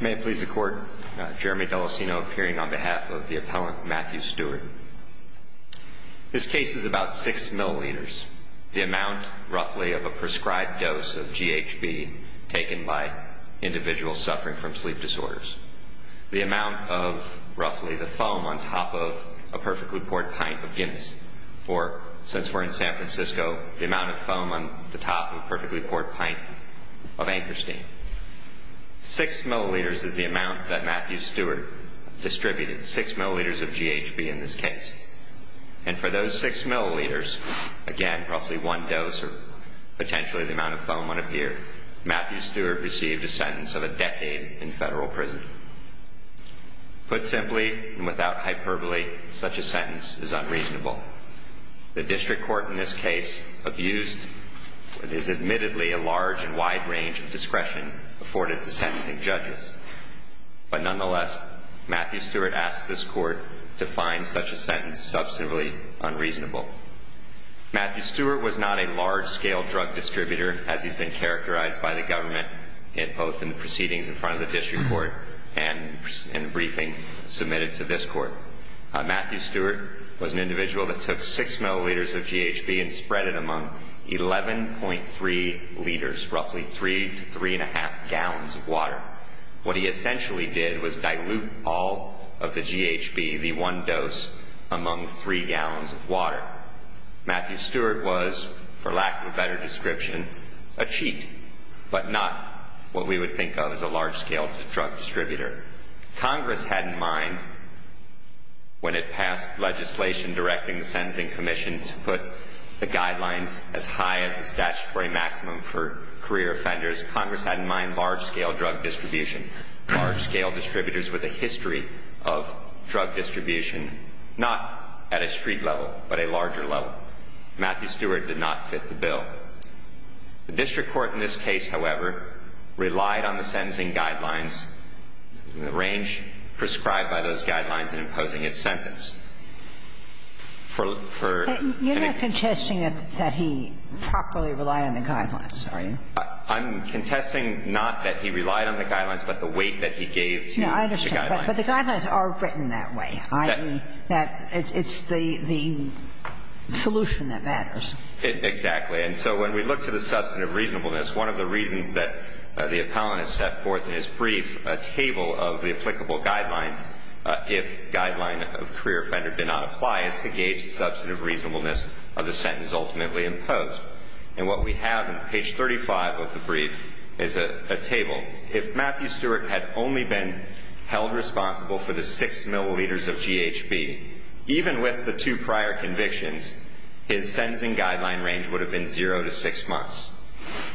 May it please the Court, Jeremy Delosino appearing on behalf of the appellant Matthew Stewart. This case is about 6 milliliters, the amount, roughly, of a prescribed dose of GHB taken by individuals suffering from sleep disorders. The amount of, roughly, the foam on top of a perfectly poured pint of Guinness, or, since we're in San Francisco, the amount of foam on the top of a perfectly poured pint of Ankerstein. 6 milliliters is the amount that Matthew Stewart distributed, 6 milliliters of GHB in this case. And for those 6 milliliters, again, roughly one dose, or potentially the amount of foam on a beer, Matthew Stewart received a sentence of a decade in federal prison. Put simply, and without hyperbole, such a sentence is unreasonable. The district court in this case abused what is admittedly a large and wide range of discretion afforded to sentencing judges. But nonetheless, Matthew Stewart asked this court to find such a sentence substantively unreasonable. Matthew Stewart was not a large-scale drug distributor, as he's been characterized by the government, both in the proceedings in front of the district court and in the briefing submitted to this court. Matthew Stewart was an individual that took 6 milliliters of GHB and spread it among 11.3 liters, roughly 3 to 3 1⁄2 gallons of water. What he essentially did was dilute all of the GHB, the one dose, among 3 gallons of water. Matthew Stewart was, for lack of a better description, a cheat, but not what we would think of as a large-scale drug distributor. Congress had in mind, when it passed legislation directing the Sentencing Commission to put the guidelines as high as the statutory maximum for career offenders, Congress had in mind large-scale drug distribution, large-scale distributors with a history of drug distribution, not at a street level, but a larger level. Matthew Stewart did not the range prescribed by those guidelines in imposing his sentencing for any attorney Gayers The way you can judge for that is byollarizing guidelines but it's a way you can? Unified It is the way that you can budge from the ways in which sentencing guidelines For any Brief a table of the applicable guidelines if guideline of career offender did not apply is to gauge the substantive reasonableness of the sentence ultimately imposed and what we have in page 35 of the brief is a Table if Matthew Stewart had only been held responsible for the six milliliters of GHB Even with the two prior convictions his sentencing guideline range would have been zero to six months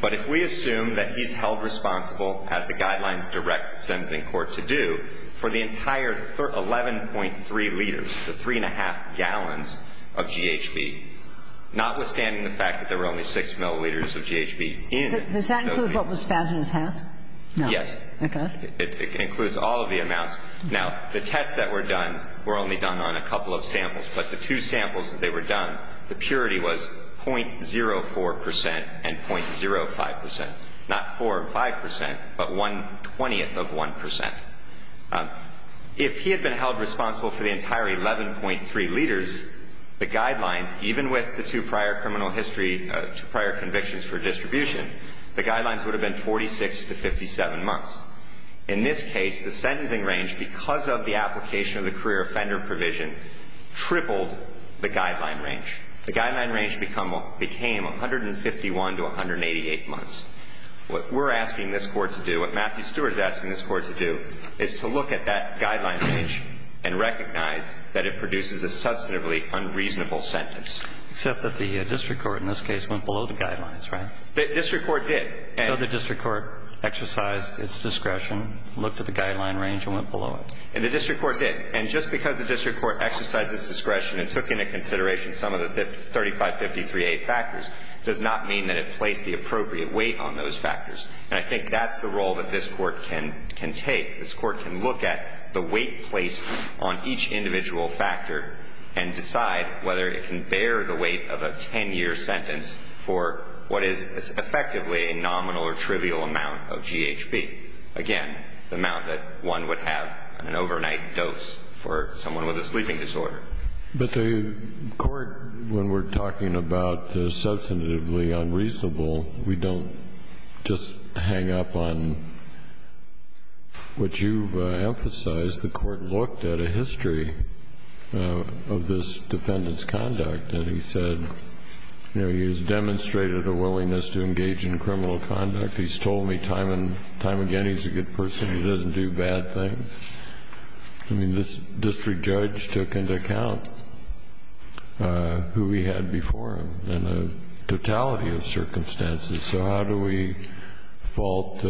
But if we assume that he's held responsible as the guidelines direct sentencing court to do for the entire 11.3 liters the three and a half gallons of GHB Notwithstanding the fact that there were only six milliliters of GHB in Yes It includes all of the amounts now the tests that were done were only done on a couple of samples But the two samples that they were done the purity was 0.04 percent and 0.05 percent not four or five percent, but one twentieth of one percent If he had been held responsible for the entire eleven point three liters The guidelines even with the two prior criminal history to prior convictions for distribution The guidelines would have been 46 to 57 months in this case the sentencing range because of the application of the career offender provision Tripled the guideline range the guideline range become became 151 to 188 months what we're asking this court to do what Matthew Stewart is asking this court to do is to look at that guideline range and Recognize that it produces a substantively unreasonable sentence except that the district court in this case went below the guidelines, right? The district court did so the district court exercised its discretion Looked at the guideline range and went below it and the district court did and just because the district court exercised its discretion and took into consideration some of the 3553 a factors does not mean that it placed the appropriate weight on those factors And I think that's the role that this court can can take this court can look at the weight placed on each individual Factor and decide whether it can bear the weight of a 10-year sentence for what is Effectively a nominal or trivial amount of GHB again, the amount that one would have an overnight dose for someone with a sleeping disorder, but the Court when we're talking about the substantively unreasonable. We don't just hang up on What you've emphasized the court looked at a history of this defendants conduct and he said He's demonstrated a willingness to engage in criminal conduct. He's told me time and time again. He's a good person. He doesn't do bad things I mean this district judge took into account Who he had before him and a totality of circumstances, so how do we fault?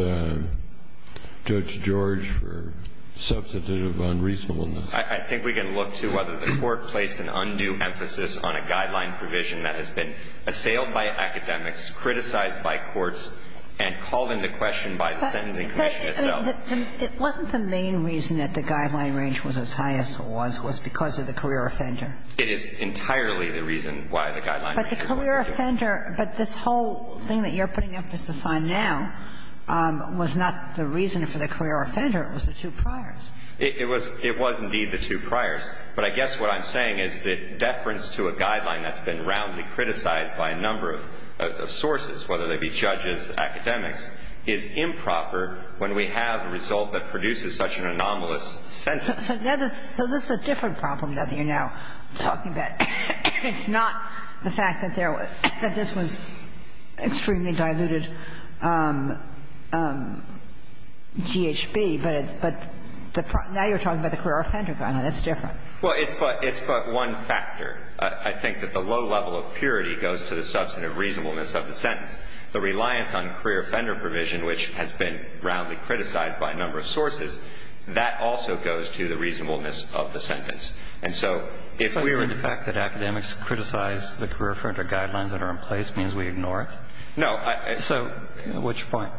Judge George for Substantive unreasonableness. I think we can look to whether the court placed an undue emphasis on a guideline provision That has been assailed by academics criticized by courts and called into question by the sentencing commission itself It wasn't the main reason that the guideline range was as high as it was was because of the career offender It is entirely the reason why the guideline, but the career offender, but this whole thing that you're putting emphasis on now Was not the reason for the career offender. It was the two priors It was it was indeed the two priors But I guess what I'm saying is that deference to a guideline that's been roundly criticized by a number of Sources, whether they be judges academics is improper when we have a result that produces such an anomalous Sentence, so this is a different problem that you're now talking about It's not the fact that there was that this was extremely diluted GHB, but but the now you're talking about the career offender guideline. That's different well, it's but it's but one factor I think that the low level of purity goes to the substantive reasonableness of the sentence the reliance on career offender provision Which has been roundly criticized by a number of sources that also goes to the reasonableness of the sentence And so if we were in the fact that academics criticize the career offender guidelines that are in place means we ignore it So at which point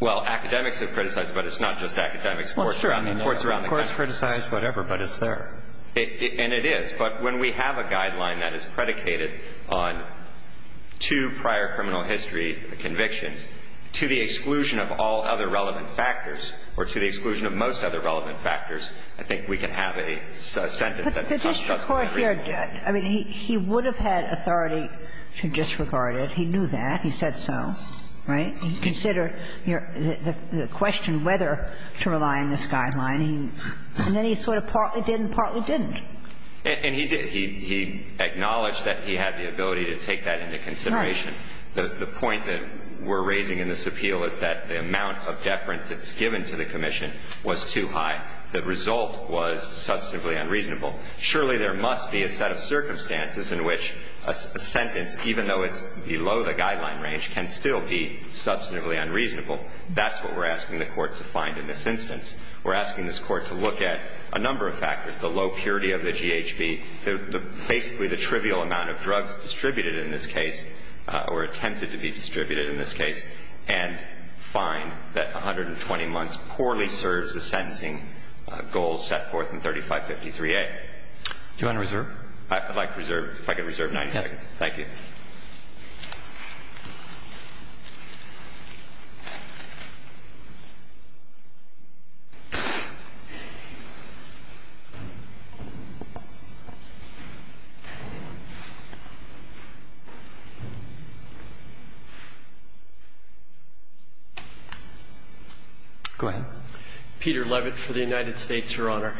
well academics have criticized, but it's not just academics Well, it's around the courts around the courts criticize whatever but it's there it and it is but when we have a guideline that is predicated on two prior criminal history Convictions to the exclusion of all other relevant factors or to the exclusion of most other relevant factors. I think we can have a sentence I mean, he would have had authority to disregard it. He knew that he said so, right? He considered here the question whether to rely on this guideline And then he sort of partly didn't partly didn't and he did he? Acknowledged that he had the ability to take that into consideration The point that we're raising in this appeal is that the amount of deference that's given to the Commission was too high the result was Substantively unreasonable surely there must be a set of circumstances in which a sentence even though it's below the guideline range can still be Substantively unreasonable. That's what we're asking the court to find in this instance We're asking this court to look at a number of factors the low purity of the GHB basically the trivial amount of drugs distributed in this case or attempted to be distributed in this case and Find that 120 months poorly serves the sentencing goals set forth in 3553 a You want to reserve? I'd like to reserve if I could reserve 90 seconds. Thank you Go ahead Peter Leavitt for the United States, Your Honor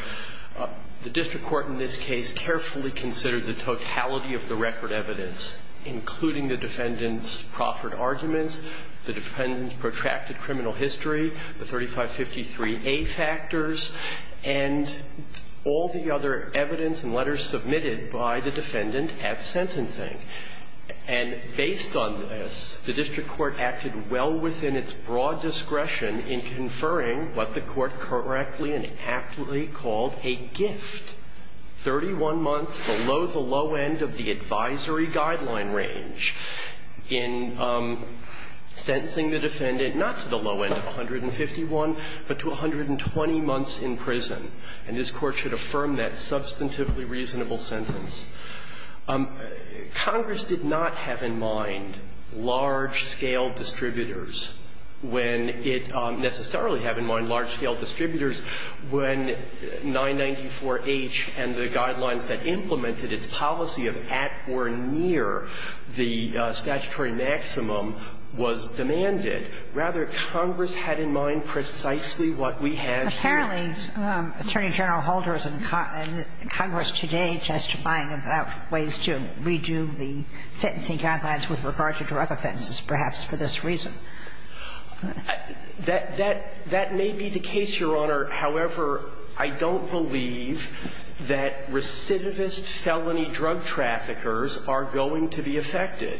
The district court in this case carefully considered the totality of the record evidence Including the defendants proffered arguments the defendants protracted criminal history the 3553 a factors and all the other evidence and letters submitted by the defendant at sentencing and Based on this the district court acted well within its broad discretion in conferring what the court correctly and aptly called a gift 31 months below the low end of the advisory guideline range in Sensing the defendant not to the low end of 151 but to 120 months in prison and this court should affirm that substantively reasonable sentence Congress did not have in mind large scale distributors when it necessarily have in mind large-scale distributors when 994 H and the guidelines that implemented its policy of at or near The statutory maximum was demanded rather Congress had in mind precisely what we have Apparently attorney general holders and Congress today testifying about ways to redo the sentencing guidelines with regard to drug offenses perhaps for this reason That that that may be the case your honor however I don't believe that recidivist felony drug traffickers are going to be affected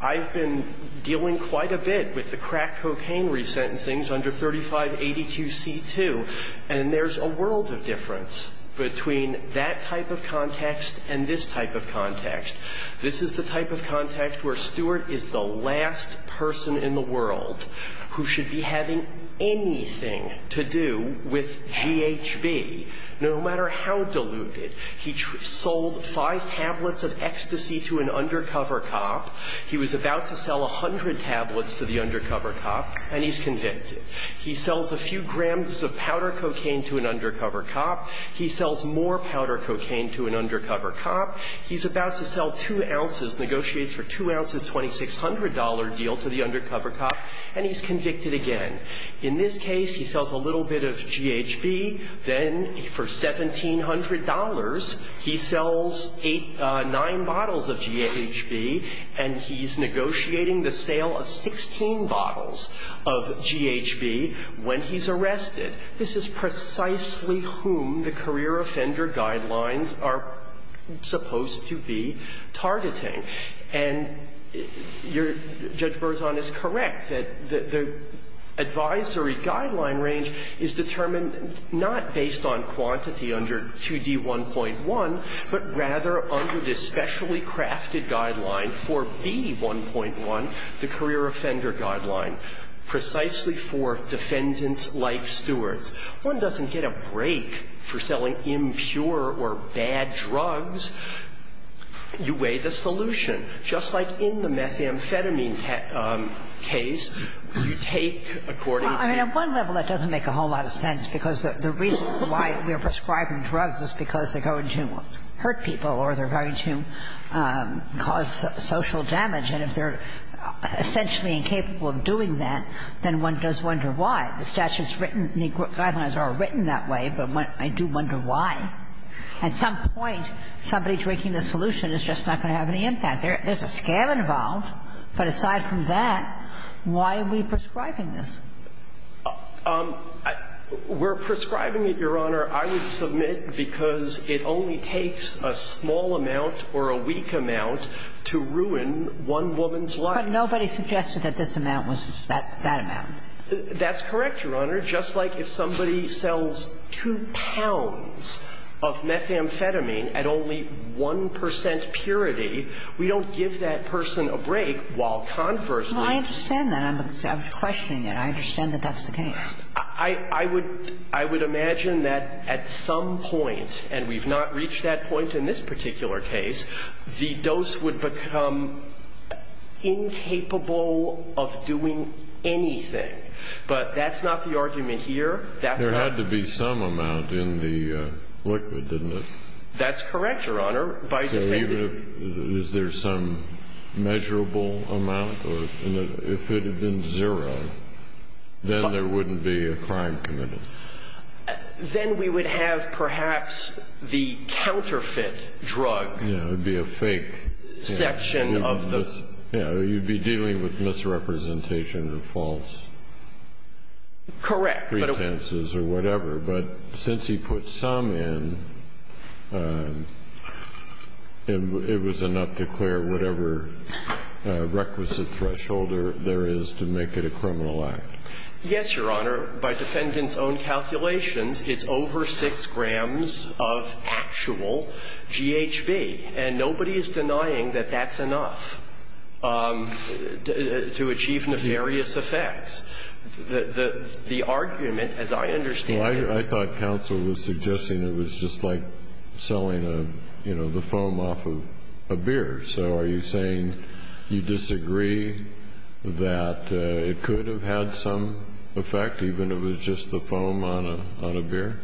I've been dealing quite a bit with the crack cocaine resentencings under 3582 c2 and there's a world of difference between that type of context and this type of Context this is the type of context where Stewart is the last person in the world Who should be having anything to do with? GHB no matter how deluded he sold five tablets of ecstasy to an undercover cop He was about to sell a hundred tablets to the undercover cop and he's convicted He sells a few grams of powder cocaine to an undercover cop. He sells more powder cocaine to an undercover cop He's about to sell two ounces negotiate for two ounces $2,600 deal to the undercover cop and he's convicted again in this case. He sells a little bit of GHB then for $1,700 he sells eight nine bottles of GHB and He's negotiating the sale of 16 bottles of GHB when he's arrested This is precisely whom the career offender guidelines are supposed to be targeting and Your judge Burzon is correct that the Advisory guideline range is determined not based on quantity under 2d 1.1 but rather under this specially crafted guideline for B 1.1 the career offender guideline Precisely for defendants life stewards one doesn't get a break for selling impure or bad drugs You weigh the solution just like in the methamphetamine Case you take according I mean at one level That doesn't make a whole lot of sense because the reason why we are prescribing drugs is because they're going to hurt people or they're going to cause social damage and if they're Essentially incapable of doing that then one does wonder why the statutes written the guidelines are written that way But what I do wonder why at some point somebody drinking the solution is just not going to have any impact there There's a scam involved but aside from that Why are we prescribing this? um We're prescribing it your honor I would submit because it only takes a small amount or a weak amount To ruin one woman's life nobody suggested that this amount was that that amount That's correct your honor. Just like if somebody sells two pounds of methamphetamine at only 1% purity we don't give that person a break while conversely I understand that I'm I Would I would imagine that at some point and we've not reached that point in this particular case the dose would become Incapable of doing Anything, but that's not the argument here that there had to be some amount in the liquid didn't it? That's correct your honor by the failure. Is there some? measurable amount If it had been zero Then there wouldn't be a crime committed Then we would have perhaps the counterfeit drug. It would be a fake Section of this you know you'd be dealing with misrepresentation or false Correct pretences or whatever, but since he put some in And it was enough to clear whatever Requisite thresholder there is to make it a criminal act yes your honor by defendants own calculations It's over six grams of actual GHB and nobody is denying that that's enough To achieve nefarious effects The the argument as I understand why I thought counsel was suggesting it was just like Selling a you know the foam off of a beer, so are you saying you disagree? That it could have had some effect even it was just the foam on a beer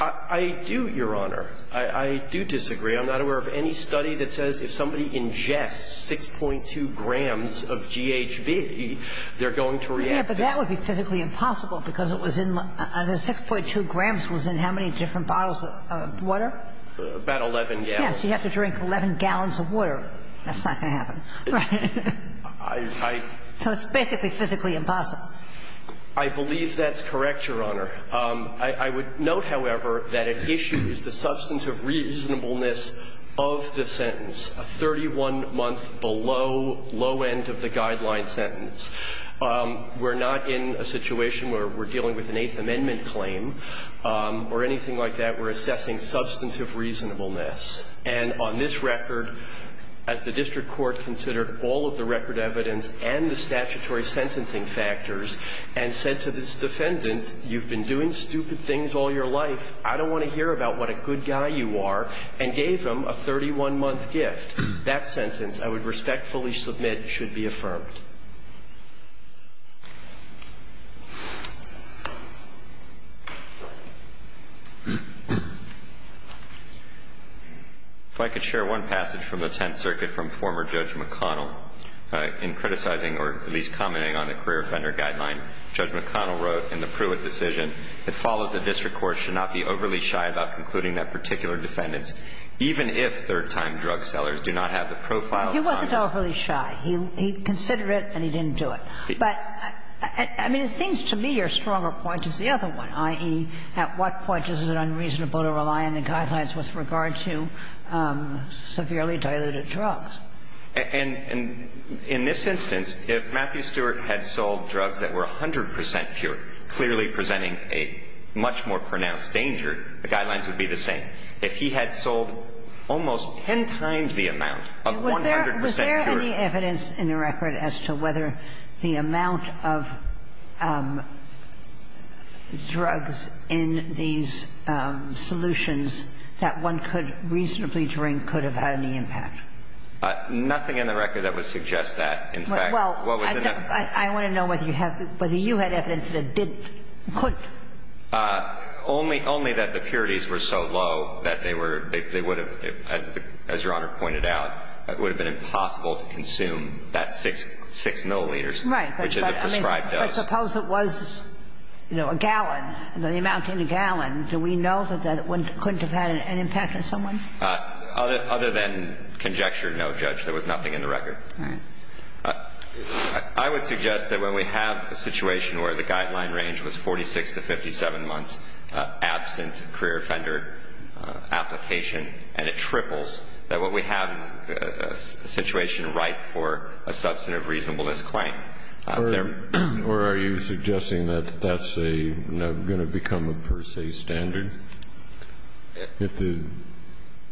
I do your honor. I do disagree I'm not aware of any study that says if somebody ingests six point two grams of GHB They're going to react, but that would be physically impossible because it was in the six point two grams was in how many different bottles? Water about 11. Yes, you have to drink 11 gallons of water. That's not going to happen So it's basically physically impossible I Believe that's correct your honor. I would note however that an issue is the substance of reasonableness of The sentence a 31 month below low end of the guideline sentence We're not in a situation where we're dealing with an Eighth Amendment claim Or anything like that we're assessing substantive reasonableness and on this record as the district court considered all of the record evidence and the statutory sentencing factors and Said to this defendant you've been doing stupid things all your life I don't want to hear about what a good guy you are and gave them a 31 month gift that sentence I would respectfully submit should be affirmed If I could share one passage from the Tenth Circuit from former judge McConnell In criticizing or at least commenting on the career offender guideline judge McConnell wrote in the Pruitt decision It follows the district court should not be overly shy about concluding that particular defendants Even if third-time drug sellers do not have the profile. He wasn't overly shy. He'd consider it and he didn't do it, but I Mean it seems to me your stronger point is the other one ie At what point is it unreasonable to rely on the guidelines with regard to severely diluted drugs And and in this instance if Matthew Stewart had sold drugs that were a hundred percent pure clearly presenting a Much more pronounced danger the guidelines would be the same if he had sold Almost ten times the amount of 100 percent evidence in the record as to whether the amount of Drugs in these Solutions that one could reasonably drink could have had any impact But nothing in the record that would suggest that in fact Well, what was it? I want to know whether you have whether you had evidence that did put Only only that the purities were so low that they were they would have as the as your honor pointed out It would have been impossible to consume that six six milliliters, right? Prescribed suppose it was You know a gallon the amount in a gallon. Do we know that that wouldn't couldn't have had an impact on someone Other other than conjecture. No judge. There was nothing in the record. I Would suggest that when we have a situation where the guideline range was 46 to 57 months absent career offender application and it triples that what we have a Substantive reasonableness claim there, or are you suggesting that that's a gonna become a per se standard? if the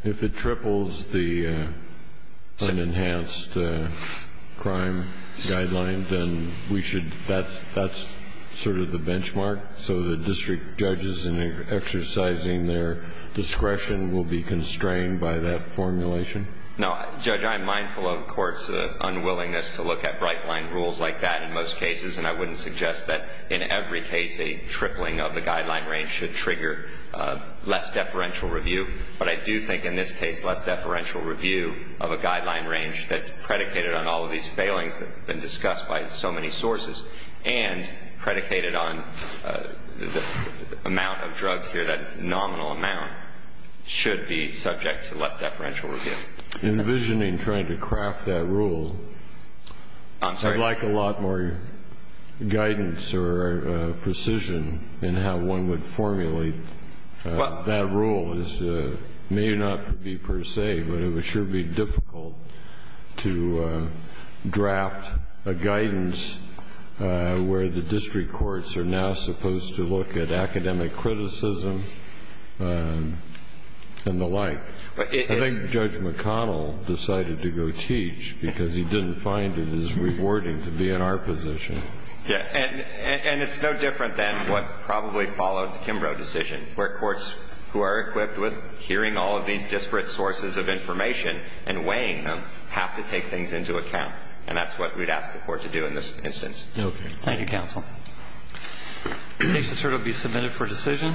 if it triples the unenhanced crime Guideline, then we should that that's sort of the benchmark. So the district judges in Exercising their discretion will be constrained by that formulation. No judge. I'm mindful of courts Unwillingness to look at bright line rules like that in most cases and I wouldn't suggest that in every case a tripling of the guideline range should trigger Less deferential review, but I do think in this case less deferential review of a guideline range that's predicated on all of these failings that have been discussed by so many sources and predicated on Amount of drugs here. That's nominal amount Should be subject to less deferential review Envisioning trying to craft that rule I'm sorry like a lot more guidance or Precision and how one would formulate that rule is May not be per se, but it was should be difficult to Draft a guidance where the district courts are now supposed to look at academic criticism And the like but I think judge McConnell Decided to go teach because he didn't find it as rewarding to be in our position Yeah And and it's no different than what probably followed the Kimbrough decision where courts who are equipped with Hearing all of these disparate sources of information and weighing them have to take things into account And that's what we'd ask the court to do in this instance. Okay. Thank you counsel Makes it sort of be submitted for decision